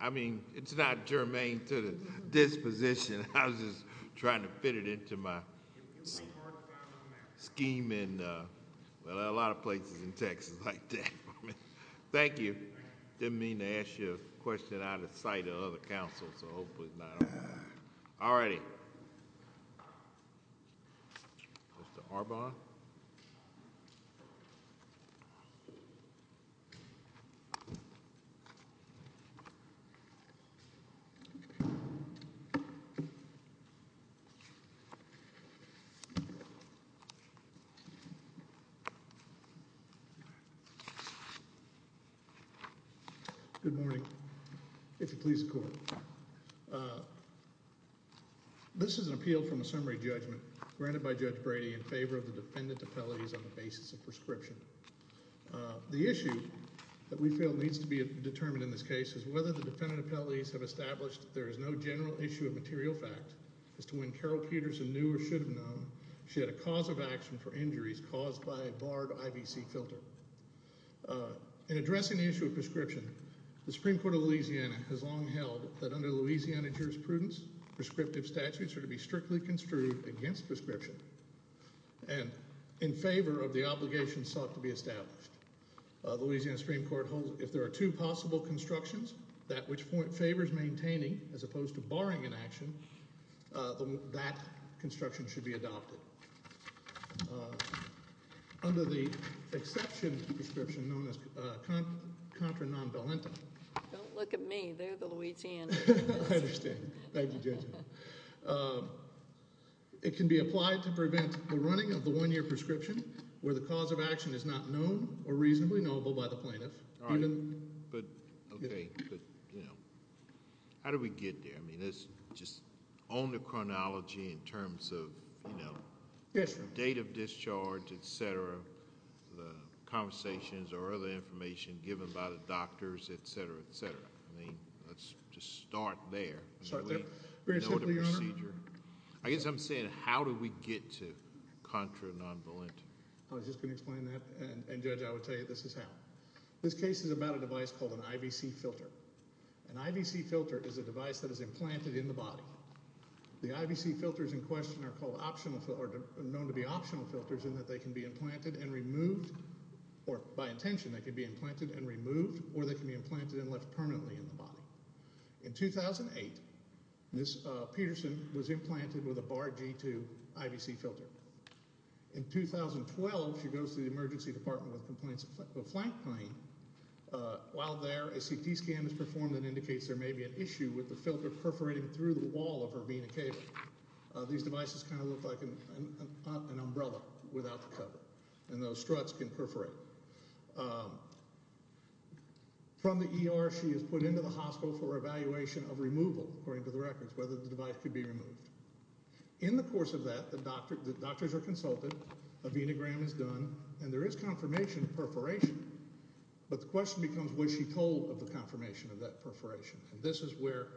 I mean, it's not germane to this position, I was just trying to fit it into my scheme in a lot of places in Texas like that. Thank you. Didn't mean to ask you a question out of sight of other councils, so hopefully it's not on there. All righty. Mr. Arbonne. Good morning, if you'll please the court. This is an appeal from a summary judgment granted by Judge Brady in favor of the defendant appellate on the basis of prescription. The issue that we feel needs to be determined in this case is whether the defendant appellate has established there is no general issue of material fact as to when Carol Peterson knew or should have known she had a cause of action for injuries caused by a barred IVC filter. In addressing the issue of prescription, the Supreme Court of Louisiana has long held that under Louisiana jurisprudence, prescriptive statutes are to be strictly construed against prescription and in favor of the obligations sought to be established. Louisiana Supreme Court holds if there are two possible constructions, that which favors maintaining as opposed to barring an action, that construction should be adopted. Under the exception prescription known as contra non-valentis, don't look at me, they're the Louisianans. I understand. Thank you, Judge. Thank you. It can be applied to prevent the running of the one-year prescription where the cause of action is not known or reasonably knowable by the plaintiff. All right. But, okay. But, you know, how do we get there? I mean, it's just on the chronology in terms of, you know, date of discharge, et cetera, the conversations or other information given by the doctors, et cetera, et cetera. I mean, let's just start there. Start there. Very simply, Your Honor. I guess I'm saying how do we get to contra non-valentis? I was just going to explain that and, Judge, I would tell you this is how. This case is about a device called an IVC filter. An IVC filter is a device that is implanted in the body. The IVC filters in question are called optional or known to be optional filters in that they can be implanted and removed or, by intention, they can be implanted and removed or they can be implanted and left permanently in the body. In 2008, Ms. Peterson was implanted with a Bar G2 IVC filter. In 2012, she goes to the emergency department with complaints of flank pain. While there, a CT scan is performed that indicates there may be an issue with the filter perforating through the wall of her vena cava. These devices kind of look like an umbrella without the cover, and those struts can perforate. From the ER, she is put into the hospital for evaluation of removal, according to the records, whether the device could be removed. In the course of that, the doctors are consulted, a venogram is done, and there is confirmation of perforation, but the question becomes was she told of the confirmation of that perforation. This is where,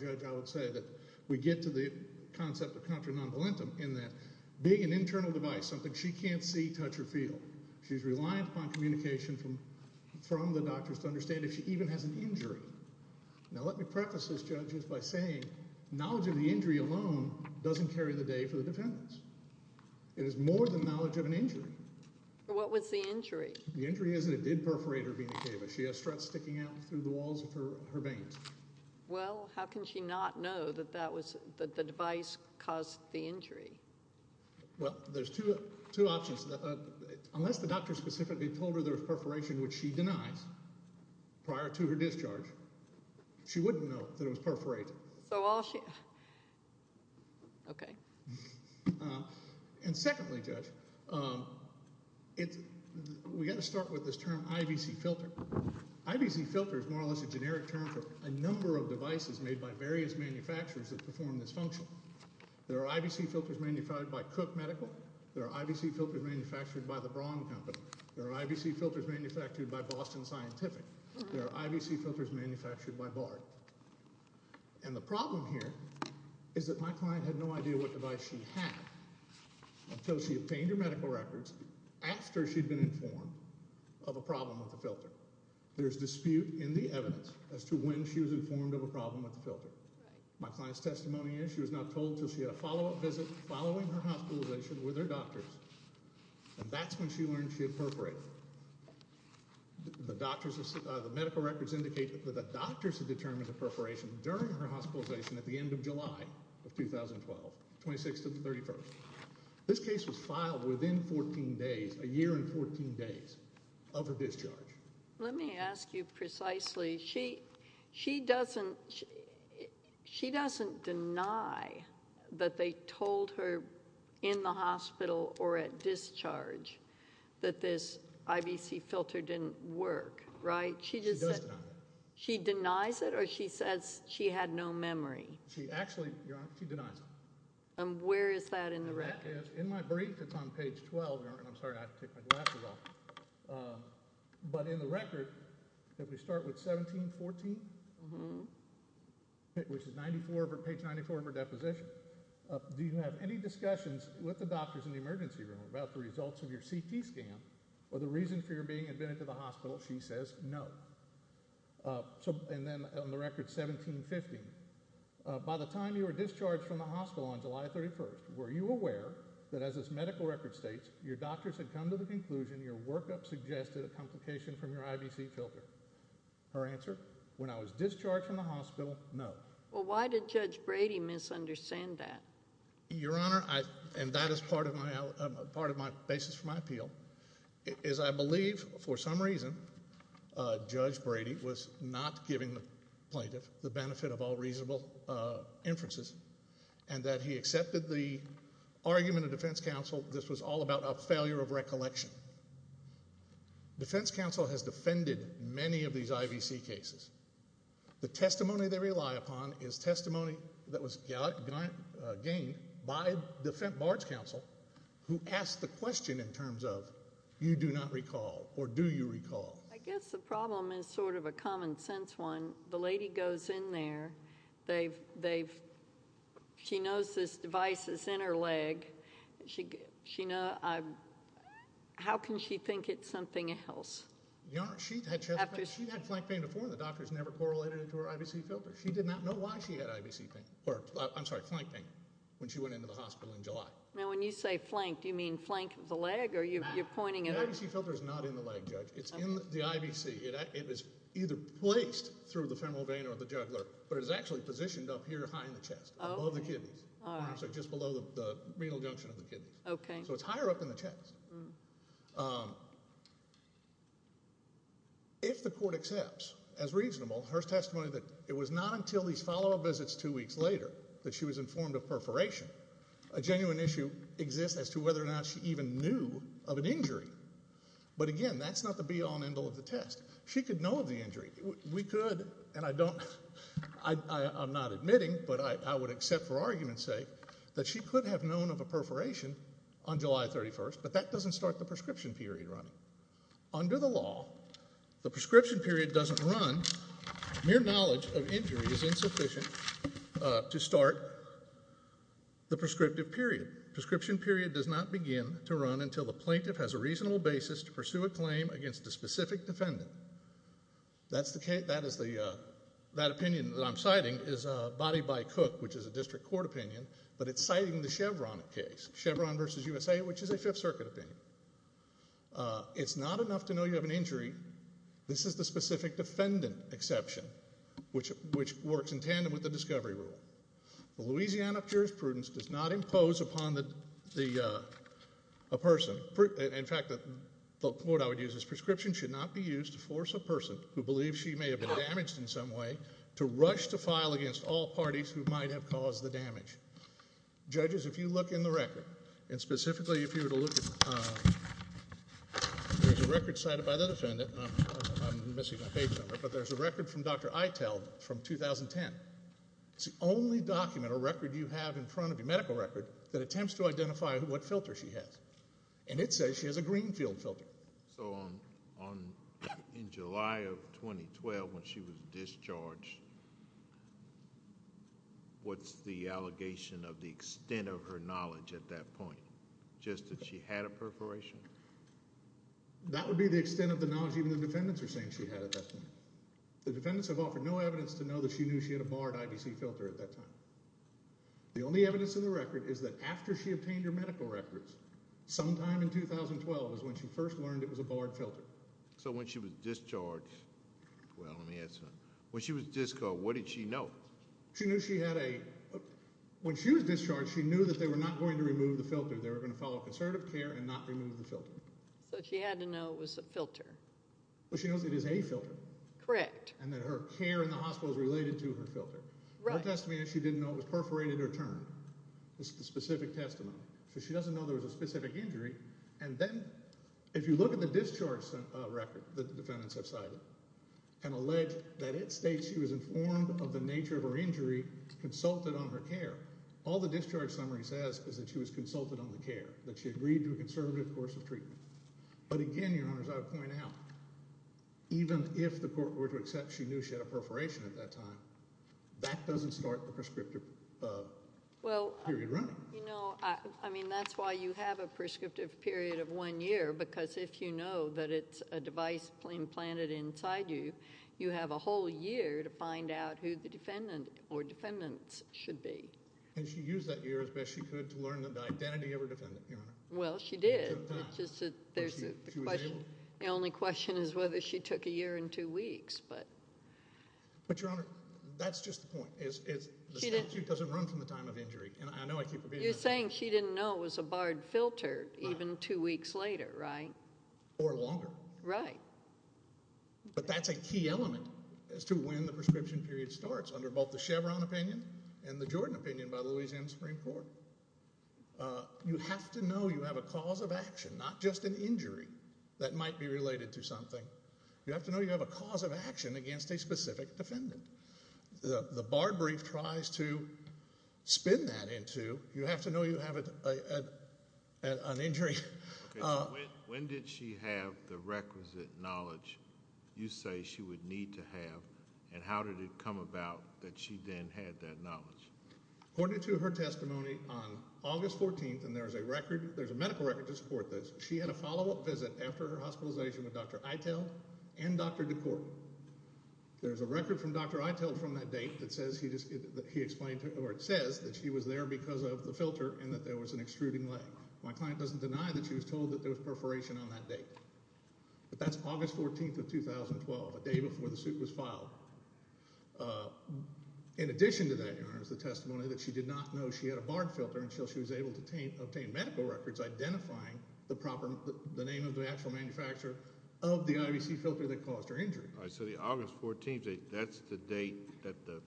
Judge, I would say that we get to the concept of contra non-valentis in that being an internal device, something she can't see, touch, or feel, she's reliant upon communication from the doctors to understand if she even has an injury. Now let me preface this, Judge, just by saying knowledge of the injury alone doesn't carry the day for the defendants. It is more than knowledge of an injury. What was the injury? The injury is that it did perforate her vena cava. She has struts sticking out through the walls of her veins. Well, how can she not know that the device caused the injury? Well, there's two options. Unless the doctor specifically told her there was perforation, which she denies, prior to her discharge, she wouldn't know that it was perforated. So all she... Okay. And secondly, Judge, we've got to start with this term IVC filter. IVC filter is more or less a generic term for a number of devices made by various manufacturers that perform this function. There are IVC filters manufactured by Cook Medical. There are IVC filters manufactured by the Braun Company. There are IVC filters manufactured by Boston Scientific. There are IVC filters manufactured by Bard. And the problem here is that my client had no idea what device she had until she obtained her medical records after she'd been informed of a problem with the filter. There's dispute in the evidence as to when she was informed of a problem with the filter. My client's testimony is she was not told until she had a follow-up visit following her hospitalization with her doctors. And that's when she learned she had perforated. The doctors... The medical records indicate that the doctors had determined the perforation during her hospitalization at the end of July of 2012, 26 to the 31st. This case was filed within 14 days, a year and 14 days of her discharge. Let me ask you precisely. She doesn't deny that they told her in the hospital or at discharge that this IVC filter didn't work, right? She just said... She does deny it. She denies it? Or she says she had no memory? She actually... You're right. She denies it. And where is that in the record? In my brief, it's on page 12. I'm sorry. I have to take my glasses off. But in the record, if we start with 1714, which is page 94 of her deposition, do you have any discussions with the doctors in the emergency room about the results of your CT scan or the reason for your being admitted to the hospital? She says no. And then on the record 1715, by the time you were discharged from the hospital on July 31st, were you aware that as this medical record states, your doctors had come to the conclusion that the workup suggested a complication from your IVC filter? Her answer? When I was discharged from the hospital, no. Well, why did Judge Brady misunderstand that? Your Honor, and that is part of my basis for my appeal, is I believe for some reason Judge Brady was not giving the plaintiff the benefit of all reasonable inferences and that he accepted the argument of defense counsel that this was all about a failure of recollection. Defense counsel has defended many of these IVC cases. The testimony they rely upon is testimony that was gained by defense barge counsel who asked the question in terms of, you do not recall or do you recall? I guess the problem is sort of a common sense one. The lady goes in there. She knows this device is in her leg. How can she think it's something else? She had flank pain before and the doctors never correlated it to her IVC filter. She did not know why she had flank pain when she went into the hospital in July. Now, when you say flank, do you mean flank of the leg or you're pointing it out? The IVC filter is not in the leg, Judge. It's in the IVC. It was either placed through the femoral vein or the jugular, but it was actually positioned up here high in the chest, above the kidneys, just below the renal junction of the kidneys. So it's higher up in the chest. If the court accepts as reasonable her testimony that it was not until these follow-up visits two weeks later that she was informed of perforation, a genuine issue exists as to whether or not she even knew of an injury. But again, that's not the be-all and end-all of the test. She could know of the injury. We could, and I don't, I'm not admitting, but I would accept for argument's sake that she could have known of a perforation on July 31st, but that doesn't start the prescription period running. Under the law, the prescription period doesn't run, mere knowledge of injury is insufficient to start the prescriptive period. Prescription period does not begin to run until the plaintiff has a reasonable basis to pursue a claim against a specific defendant. That's the case, that is the, that opinion that I'm citing is bodied by Cook, which is a district court opinion, but it's citing the Chevron case, Chevron versus USA, which is a Fifth Circuit opinion. It's not enough to know you have an injury. This is the specific defendant exception, which works in tandem with the discovery rule. The Louisiana jurisprudence does not impose upon the, a person, in fact, the quote I would use is, prescription should not be used to force a person who believes she may have been damaged in some way to rush to file against all parties who might have caused the damage. Judges, if you look in the record, and specifically if you were to look at, there's a record cited by the defendant, I'm missing my page number, but there's a record from Dr. Eitel from 2010. It's the only document or record you have in front of your medical record that attempts to identify what filter she has. And it says she has a Greenfield filter. So on, on, in July of 2012 when she was discharged, what's the allegation of the extent of her knowledge at that point? Just that she had a perforation? That would be the extent of the knowledge even the defendants are saying she had at that point. No evidence. The defendants have offered no evidence to know that she knew she had a barred IVC filter at that time. The only evidence in the record is that after she obtained her medical records, sometime in 2012 is when she first learned it was a barred filter. So when she was discharged, well let me ask her, when she was discharged, what did she know? She knew she had a, when she was discharged, she knew that they were not going to remove the filter. They were going to follow conservative care and not remove the filter. So she had to know it was a filter. Well she knows it is a filter. Correct. And that her care in the hospital is related to her filter. Right. Her testimony is she didn't know it was perforated or turned. It's the specific testimony. So she doesn't know there was a specific injury. And then, if you look at the discharge record that the defendants have cited, and allege that it states she was informed of the nature of her injury, consulted on her care, all the discharge summary says is that she was consulted on the care. That she agreed to a conservative course of treatment. But again, Your Honor, as I point out, even if the court were to accept she knew she had a perforation at that time, that doesn't start the prescriptive period running. Well, you know, I mean that's why you have a prescriptive period of one year, because if you know that it's a device implanted inside you, you have a whole year to find out who the defendant or defendants should be. And she used that year as best she could to learn the identity of her defendant, Your Honor. Well, she did. The only question is whether she took a year and two weeks. But, Your Honor, that's just the point. The statute doesn't run from the time of injury. You're saying she didn't know it was a barred filter even two weeks later, right? Or longer. Right. But that's a key element as to when the prescription period starts under both the Chevron opinion and the Jordan opinion by the Louisiana Supreme Court. You have to know you have a cause of action, not just an injury that might be related to something. You have to know you have a cause of action against a specific defendant. The bar brief tries to spin that into, you have to know you have an injury. When did she have the requisite knowledge you say she would need to have? And how did it come about that she then had that knowledge? According to her testimony on August 14th, and there's a record, there's a medical record to support this, she had a follow-up visit after her hospitalization with Dr. Eitel and Dr. DeCourt. There's a record from Dr. Eitel from that date that says he explained, or it says that she was there because of the filter and that there was an extruding leg. My client doesn't deny that she was told that there was perforation on that date. But that's August 14th of 2012, a day before the suit was filed. In addition to that, Your Honor, is the testimony that she did not know she had a barn filter until she was able to obtain medical records identifying the name of the actual manufacturer of the IVC filter that caused her injury. So the August 14th, that's the date that the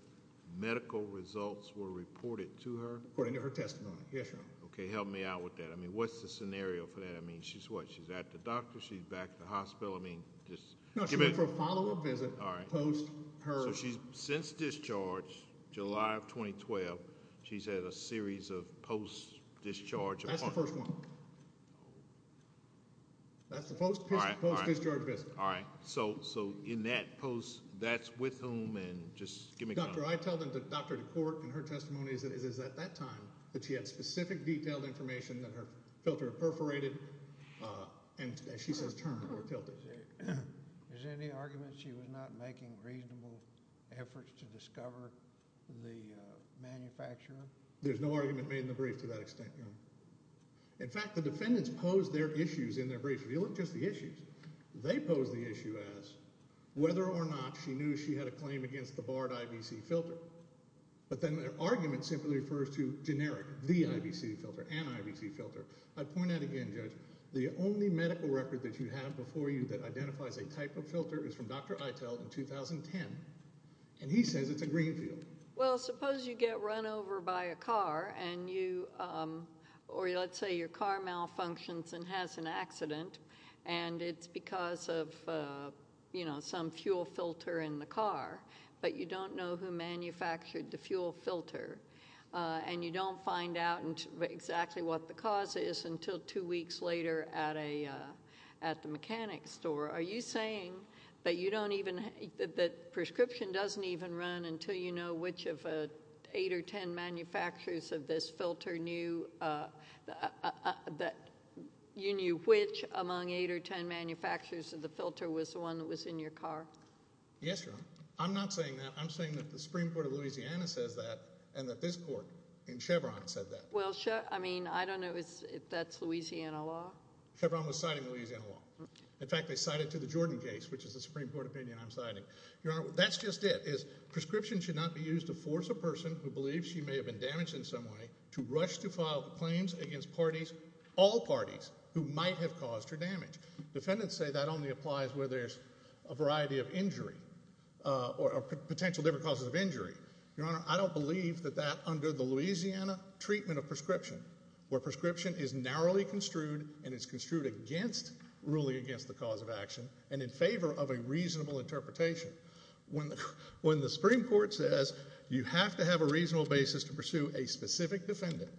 medical results were reported to her? According to her testimony, yes, Your Honor. Okay, help me out with that. I mean, what's the scenario for that? I mean, she's what? She's at the doctor? She's back at the hospital? No, she went for a follow-up visit post her... So since discharge, July of 2012, she's had a series of post-discharge appointments? That's the first one. That's the post-discharge visit. Alright, so in that post, that's with whom? Dr. Eitel and Dr. DeCourt, in her testimony, it is at that time that she had specific detailed information that her filter had perforated, and as she says, turned or tilted. Is there any argument that she was not making reasonable efforts to discover the manufacturer? There's no argument made in the brief to that extent, Your Honor. In fact, the defendants posed their issues in their brief. You look at just the issues. They posed the issue as whether or not she knew she had a claim against the barred IVC filter. But then their argument simply refers to generic, the IVC filter, an IVC filter. I'd point out again, Judge, the only medical record that you have before you that identifies a type of filter is from Dr. Eitel in 2010, and he says it's a greenfield. Well, suppose you get run over by a car, or let's say your car malfunctions and has an accident, and it's because of some fuel filter in the car, but you don't know who manufactured the fuel filter, and you don't find out exactly what the cause is until two weeks later at the mechanic's store. Are you saying that prescription doesn't even run until you know which of eight or ten manufacturers of this filter knew, that you knew which among eight or ten manufacturers of the filter was the one that was in your car? Yes, Your Honor. I'm not saying that. I'm saying that the Supreme Court of Louisiana says that, and that this court in Chevron said that. Well, I mean, I don't know if that's Louisiana law. Chevron was citing Louisiana law. In fact, they cited to the Jordan case, which is the Supreme Court opinion I'm citing. Your Honor, that's just it. Prescription should not be used to force a person who believes she may have been damaged in some way to rush to file claims against parties, all parties, who might have caused her damage. Defendants say that only applies where there's a variety of injury, or potential different causes of injury. Your Honor, I don't believe that that under the Louisiana treatment of prescription, where prescription is narrowly construed and is construed against ruling against the cause of action and in favor of a reasonable interpretation. When the Supreme Court says you have to have a reasonable basis to pursue a specific defendant,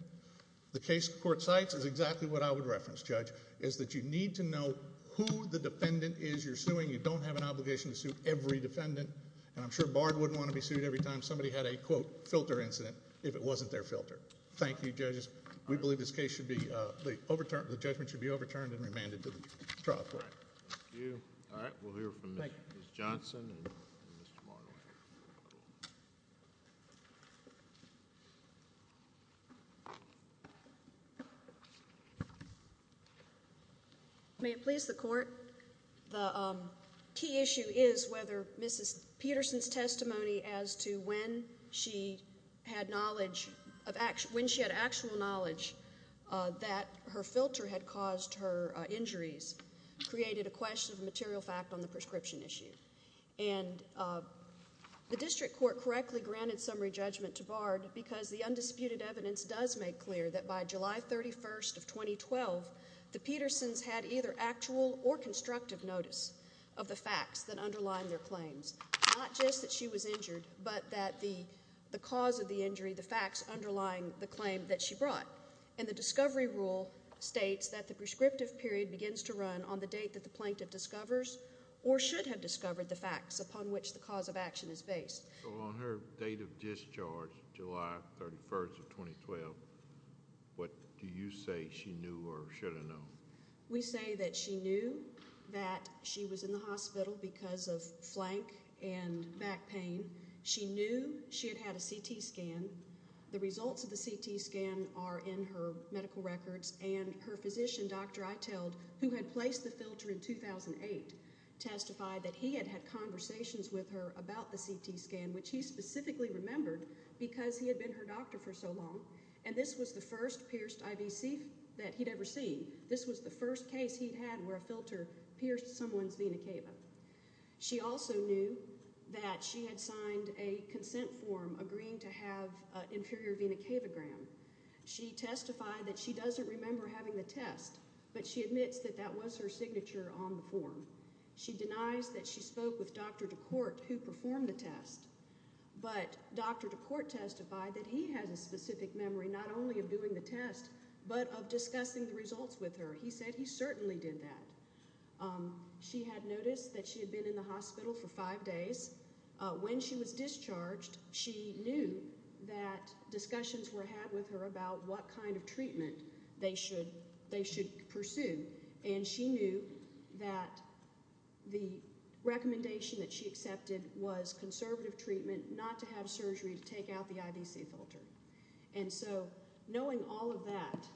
the case the court cites is exactly what I would reference, Judge, is that you need to know who the defendant is you're suing. You don't have an obligation to sue every defendant. And I'm sure Bard wouldn't want to be sued every time somebody had a, quote, filter incident if it wasn't their filter. Thank you, Judges. We believe this case should be, the judgment should be overturned and remanded to the trial court. All right. Thank you. All right. We'll hear from Ms. Johnson and Mr. Margo. May it please the Court? The key issue is whether Mrs. Peterson's testimony as to when she had knowledge of, when she had actual knowledge that her filter had caused her injuries, created a question of material fact on the prescription issue. And the district court correctly granted summary judgment to Bard because the undisputed evidence does make clear that by July 31st of 2012, the Petersons had either actual or constructive notice of the facts that underlined their claims. Not just that she was injured, but that the cause of the injury, the facts underlying the claim that she brought. And the discovery rule states that the prescriptive period begins to run on the date that the plaintiff discovers or should have discovered the facts upon which the cause of action is based. So on her date of discharge, July 31st of 2012, what do you say she knew or should have known? We say that she knew that she was in the hospital because of flank and back pain. She knew she had had a CT scan. The results of the CT scan are in her medical records. And her physician, Dr. Eitel, who had placed the filter in 2008, testified that he had had conversations with her about the CT scan, which he specifically remembered because he had been her doctor for so long. And this was the first pierced IVC that he'd ever seen. This was the first case he'd had where a filter pierced someone's vena cava. She also knew that she had signed a consent form agreeing to have an inferior vena cava gram. She testified that she doesn't remember having the test, but she admits that that was her signature on the form. She denies that she spoke with Dr. DeCourt, who performed the test. But Dr. DeCourt testified that he has a specific memory not only of doing the test, but of discussing the results with her. He said he certainly did that. She had noticed that she had been in the hospital for five days. When she was discharged, she knew that discussions were had with her about what kind of treatment they should pursue. And she knew that the recommendation that she accepted was conservative treatment, not to have surgery to take out the IVC filter. And so, knowing all of that,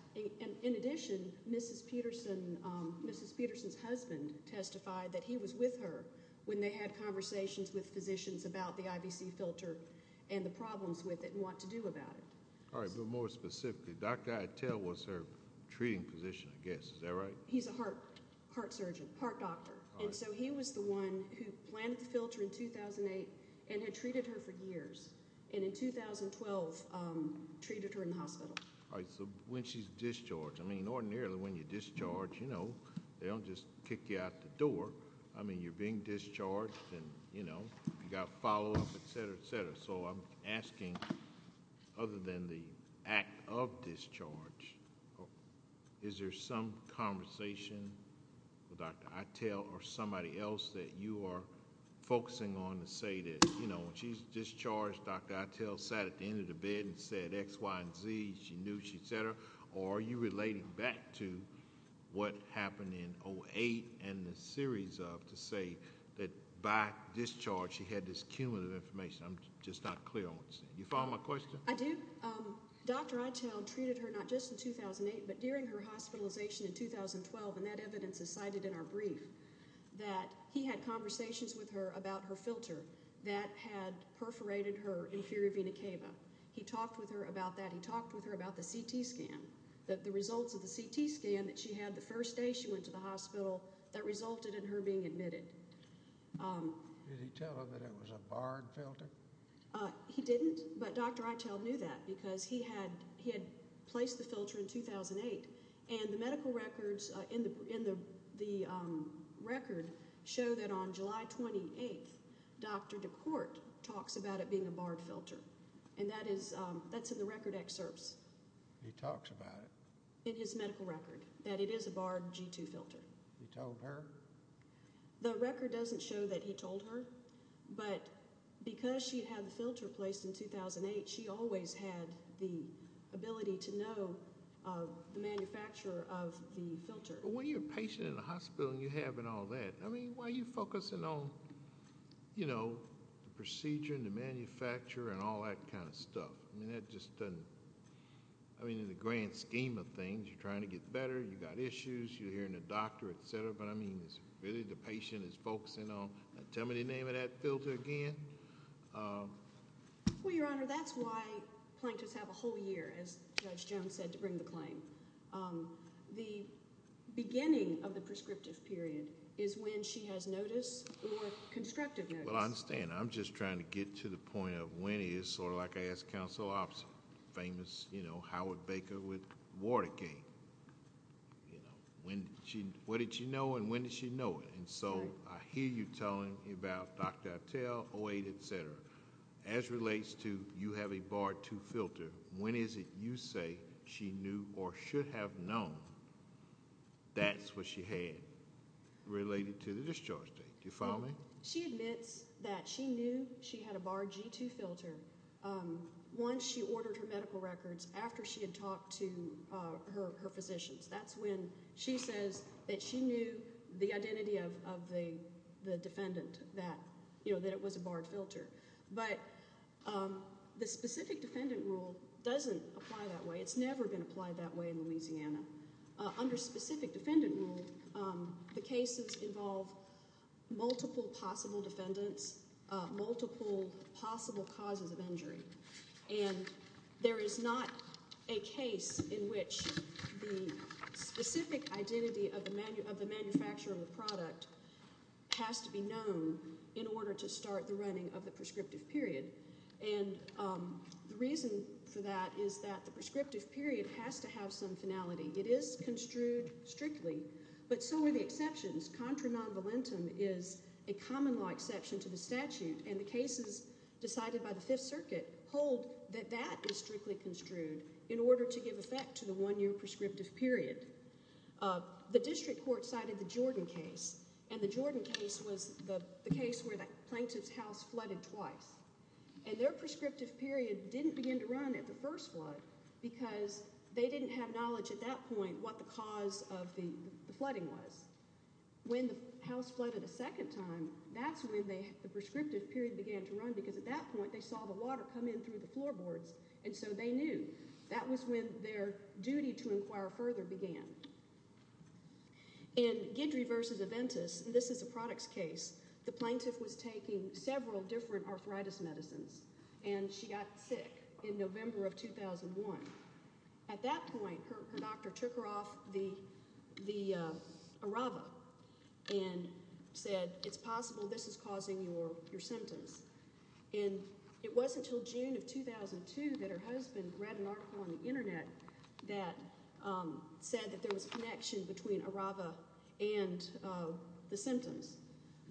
in addition, Mrs. Peterson's husband testified that he was with her when they had conversations with physicians about the IVC filter and the problems with it and what to do about it. All right, but more specifically, Dr. Attell was her treating physician, I guess. Is that right? He's a heart surgeon, heart doctor. And so he was the one who planted the filter in 2008 and had treated her for years. And in 2012, treated her in the hospital. All right, so when she's discharged, I mean, ordinarily when you're discharged, you know, they don't just kick you out the door. I mean, you're being discharged and, you know, you've got follow-up, etc., etc. So I'm asking, other than the act of discharge, is there some conversation with Dr. Attell or somebody else that you are focusing on to say that, you know, when she's discharged, Dr. Attell sat at the end of the bed and said X, Y, and Z, she knew, etc. Or are you relating back to what happened in 2008 and the series of to say that by discharge, she had this cumulative information? I'm just not clear on what you're saying. You follow my question? I do. Dr. Attell treated her not just in 2008, but during her hospitalization in 2012, and that evidence is cited in our brief, that he had conversations with her about her filter that had perforated her inferior vena cava. He talked with her about that. He talked with her about the CT scan, the results of the CT scan that she had the first day she went to the hospital that resulted in her being admitted. Did he tell her that it was a barred filter? He didn't, but Dr. Attell knew that because he had placed the filter in 2008, and the medical records in the record show that on July 28th, Dr. DeCourt talks about it being a barred filter, and that's in the record excerpts. He talks about it? In his medical record, that it is a barred G2 filter. He told her? The record doesn't show that he told her, but because she had the filter placed in 2008, she always had the ability to know the manufacturer of the filter. When you're a patient in a hospital and you're having all that, why are you focusing on the procedure and the manufacturer and all that kind of stuff? In the grand scheme of things, you're trying to get better, you've got issues, you're hearing the doctor, etc., but really the patient is focusing on tell me the name of that filter again? Well, Your Honor, that's why plaintiffs have a whole year, as Judge Jones said, to bring the claim. The beginning of the prescriptive period is when she has notice or constructive notice. Well, I understand. I'm just trying to get to the point of when it is sort of like I asked Counsel Opps, the famous Howard Baker with Watergate. What did she know and when did she know it? And so I hear you telling about Dr. Attell, 08, etc., as relates to you have a barred 2 filter, when is it you say she knew or should have known that's what she had related to the discharge date? Do you follow me? She admits that she knew she had a barred G2 filter once she ordered her medical records after she had talked to her physicians. That's when she says that she knew the identity of the defendant that it was a barred filter. But the specific defendant rule doesn't apply that way. It's never been applied that way in Louisiana. Under specific defendant rule the cases involve multiple possible defendants, multiple possible causes of injury. And there is not a case in which the specific identity of the manufacturer of the product has to be known in order to start the running of the prescriptive period. The reason for that is that the prescriptive period has to have some finality. It is construed strictly but so are the exceptions. Contra non-valentum is a common law exception to the statute and the cases decided by the 5th Circuit hold that that is strictly construed in order to give effect to the one year prescriptive period. The district court cited the Jordan case and the Jordan case was the case where the plaintiff's house flooded twice and their prescriptive period didn't begin to run at the first flood because they didn't have knowledge at that point what the cause of the flooding was. When the house flooded a second time, that's when the prescriptive period began to run because at that point they saw the water come in through the floorboards and so they knew. That was when their duty to inquire further began. In Guidry v. Aventis, and this is a products case, the plaintiff was taking several different arthritis medicines and she got sick in November of 2001. At that point, her doctor took her off the Arava and said it's possible this is causing your symptoms. It wasn't until June of 2002 that her husband read an article on the internet that said that there was a connection between the symptoms.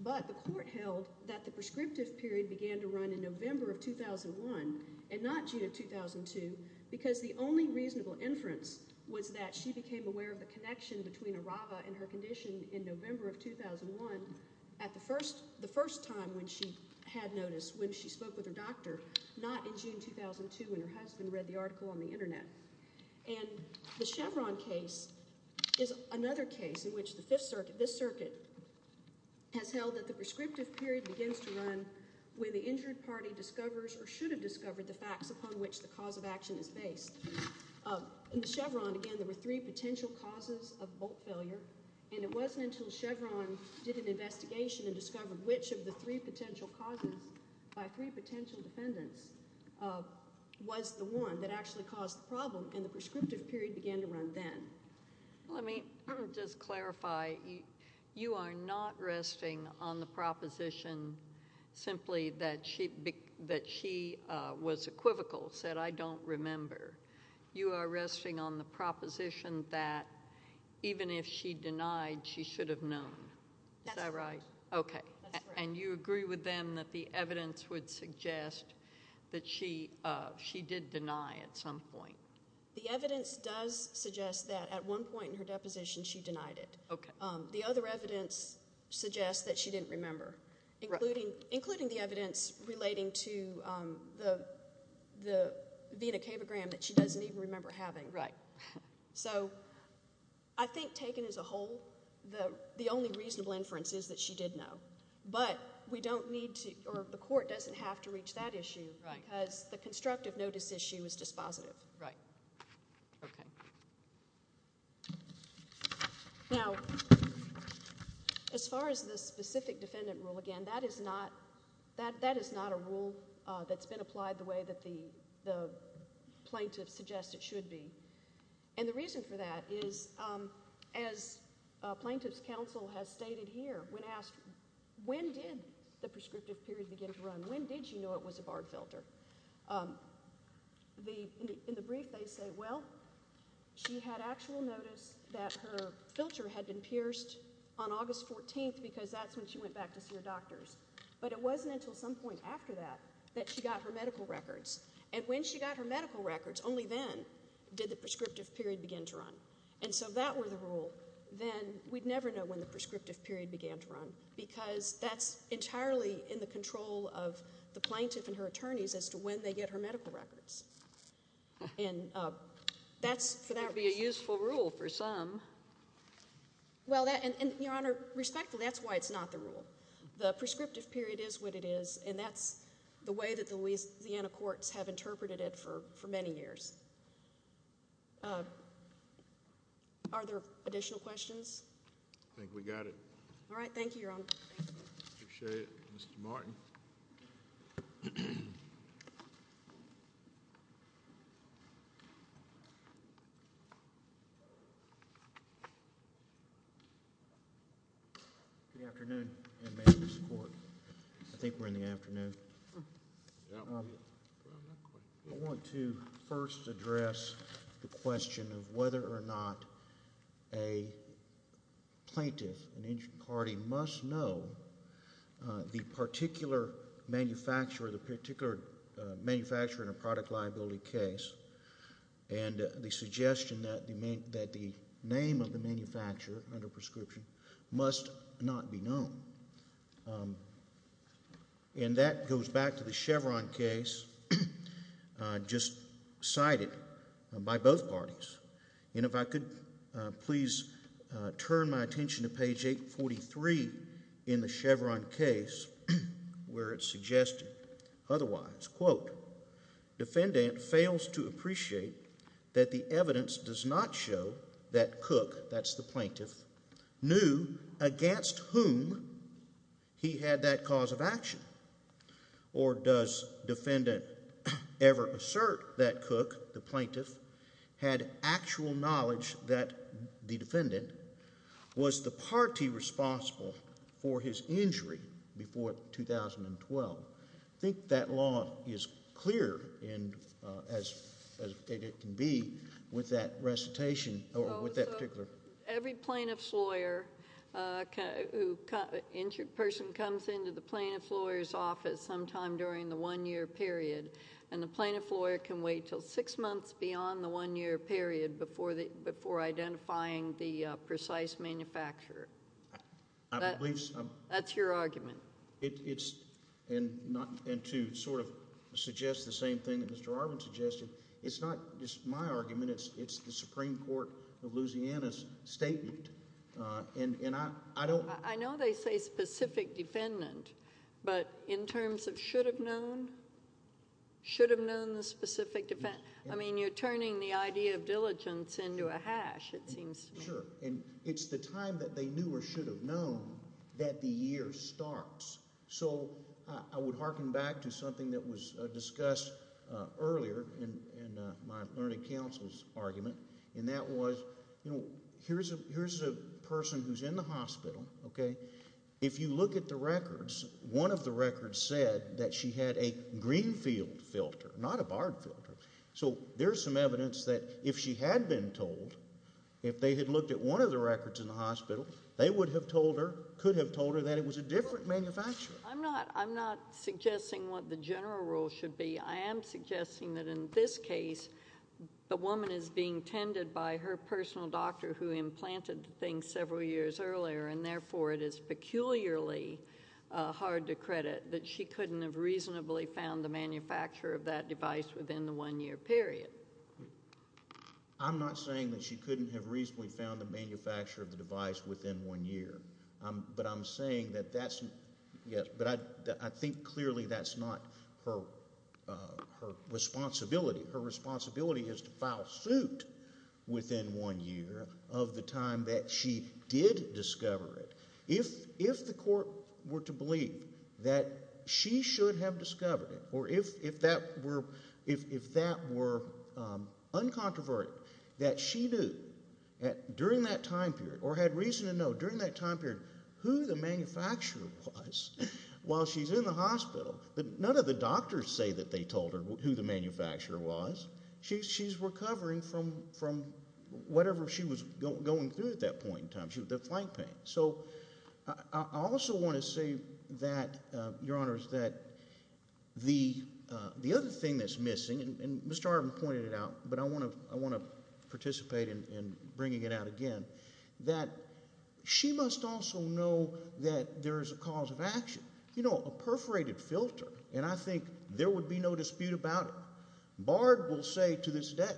The court held that the prescriptive period began to run in November of 2001 and not June of 2002 because the only reasonable inference was that she became aware of the connection between Arava and her condition in November of 2001 at the first time when she spoke with her doctor, not in June 2002 when her husband read the article on the internet. The Chevron case is another case where the circuit has held that the prescriptive period begins to run when the injured party discovers or should have discovered the facts upon which the cause of action is based. In the Chevron, again, there were three potential causes of bolt failure and it wasn't until Chevron did an investigation and discovered which of the three potential causes by three potential defendants was the one that actually caused the problem and the prescriptive period began to run then. Let me just clarify you are not resting on the proposition simply that she was equivocal, said I don't remember. You are resting on the proposition that even if she denied, she should have known. Is that right? And you agree with them that the evidence would suggest that she did deny at some point. The evidence does suggest that at one point in her deposition she denied it. The other evidence suggests that she didn't remember including the evidence relating to the Vena Cabogram that she doesn't even remember having. So I think taken as a whole the only reasonable inference is that she did know but the court doesn't have to reach that issue because the constructive notice issue is dispositive. Right. Now as far as the specific defendant rule again that is not a rule that's been applied the way that the plaintiff suggests it should be. And the reason for that is as plaintiff's counsel has stated here when asked when did the prescriptive period begin to run? When did she know it was a barbed filter? In the brief they say well she had actual notice that her filter had been pierced on August 14th because that's when she went back to see her doctors. But it wasn't until some point after that that she got her medical records. And when she got her medical records only then did the prescriptive period begin to run. And so that were the rule. Then we'd never know when the prescriptive period began to run because that's entirely in the control of the plaintiff and her attorneys as to when they get her medical records. And that's a useful rule for some. Well that and your honor respectfully that's why it's not the rule. The prescriptive period is what it is and that's the way that the Louisiana courts have interpreted it for many years. Are there additional questions? I think we got it. Alright thank you your honor. Mr. Martin. Good afternoon. I think we're in the afternoon. I want to first address the question of whether or not a plaintiff in each party must know the particular manufacturer in a product liability case and the suggestion that the name of the manufacturer under prescription must not be known. And that goes back to the Chevron case just cited by both parties. And if I could please turn my attention to page 843 in the Chevron case where it's suggested otherwise. Defendant fails to appreciate that the evidence does not show that Cook, that's the plaintiff, knew against whom he had that cause of action. Or does defendant ever assert that Cook, the plaintiff, had actual knowledge that the defendant was the party responsible for his injury before 2012? I think that law is clear as it can be with that recitation or with that particular Every plaintiff's lawyer who lawyer's office sometime during the one year period and the plaintiff's lawyer can wait until six months beyond the one year period before identifying the precise manufacturer. That's your argument. It's and to sort of suggest the same thing that Mr. Arvin suggested it's not just my argument it's the Supreme Court of Louisiana's statement I know they say specific defendant but in terms of should have known should have known the specific defendant I mean you're turning the idea of diligence into a hash it seems to me. It's the time that they knew or should have known that the year starts so I would harken back to something that was discussed earlier in my learning counsel's argument and that was here's a person who's in the hospital if you look at the records one of the records said that she had a Greenfield filter not a Bard filter so there's some evidence that if she had been told if they had looked at one of the records in the hospital they would have told her, could have told her that it was a different manufacturer. I'm not suggesting what the general rule should be. I am suggesting that in this case the woman is being tended by her personal doctor who implanted several years earlier and therefore it is peculiarly hard to credit that she couldn't have reasonably found the manufacturer of that device within the one year period. I'm not saying that she couldn't have reasonably found the manufacturer of the device within one year but I'm saying that that's yes but I think clearly that's not her responsibility her responsibility is to file suit within one year of the time that she did discover it. If the court were to believe that she should have discovered it or if that were uncontroverted that she knew during that time period or had reason to know during that time period who the manufacturer was while she's in the hospital but none of the doctors say that they told her who the manufacturer was. She's recovering from whatever she was going through at that point in time the flank pain. I also want to say that your honors that the other thing that's missing and Mr. Arvin pointed it out but I want to participate in bringing it out again that she must also know that there's a cause of action. You know a perforated filter and I think there would be no dispute about it. Bard will say to this day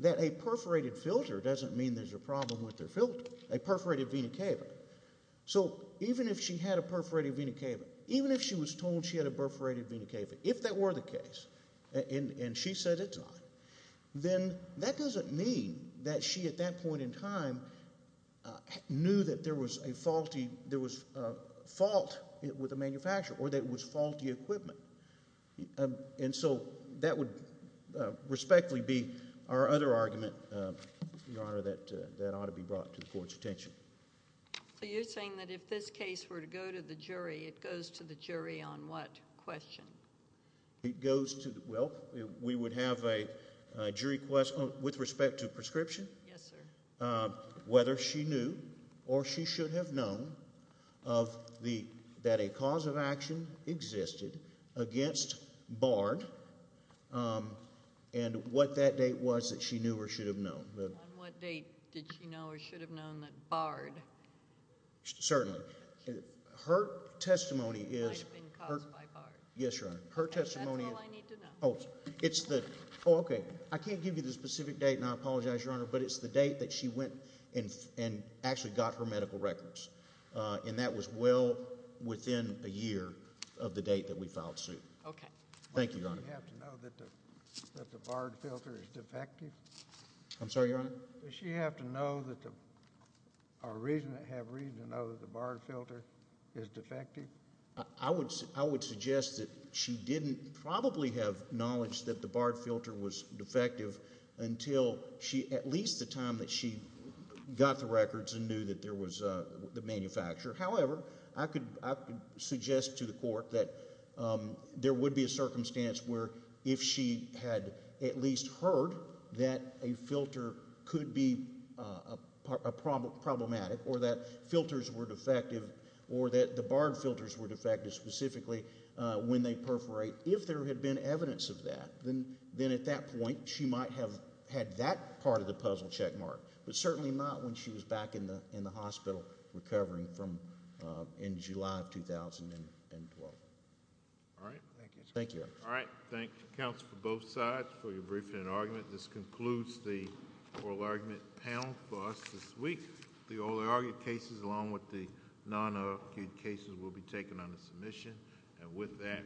that a perforated vena cava is not the only problem with their filter. A perforated vena cava. Even if she was told she had a perforated vena cava if that were the case and she said it's not then that doesn't mean that she at that point in time knew that there was a fault with the manufacturer or that it was faulty equipment. And so that would respectfully be our other argument your honor that ought to be brought to the courts attention. So you're saying that if this case were to go to the jury it goes to the jury on what question? It goes to well we would have a jury question with respect to prescription. Yes sir. Whether she knew or she should have known of the that a cause of action existed against Bard and what that date was that she knew or should have known. On what date did she know or should have known that Bard Certainly. Her testimony is Yes your honor. Her testimony That's all I need to know. I can't give you the specific date and I apologize your honor but it's the date that she went and actually got her medical records and that was well within a year of the date that we filed suit. Okay. Thank you your honor. Does she have to know that the Bard filter is defective? I'm sorry your honor? Does she have to know that the or have reason to know that the Bard filter is defective? I would suggest that she didn't probably have knowledge that the Bard filter was defective until she at least the time that she got the records and knew that there was the manufacturer. However, I could suggest to the court that there would be a circumstance where if she had at least heard that a filter could be problematic or that filters were defective or that the Bard filters were defective specifically when they perforate. If there had been evidence of that then at that point she might have had that part of the puzzle checkmarked. But certainly not when she was back in the hospital recovering from end of July of 2012. Thank you. Thank you counsel for both sides for your briefing and argument. This concludes the oral argument panel for us this week. The oral argument cases along with the non argued cases will be taken under submission and with that we stand adjourned.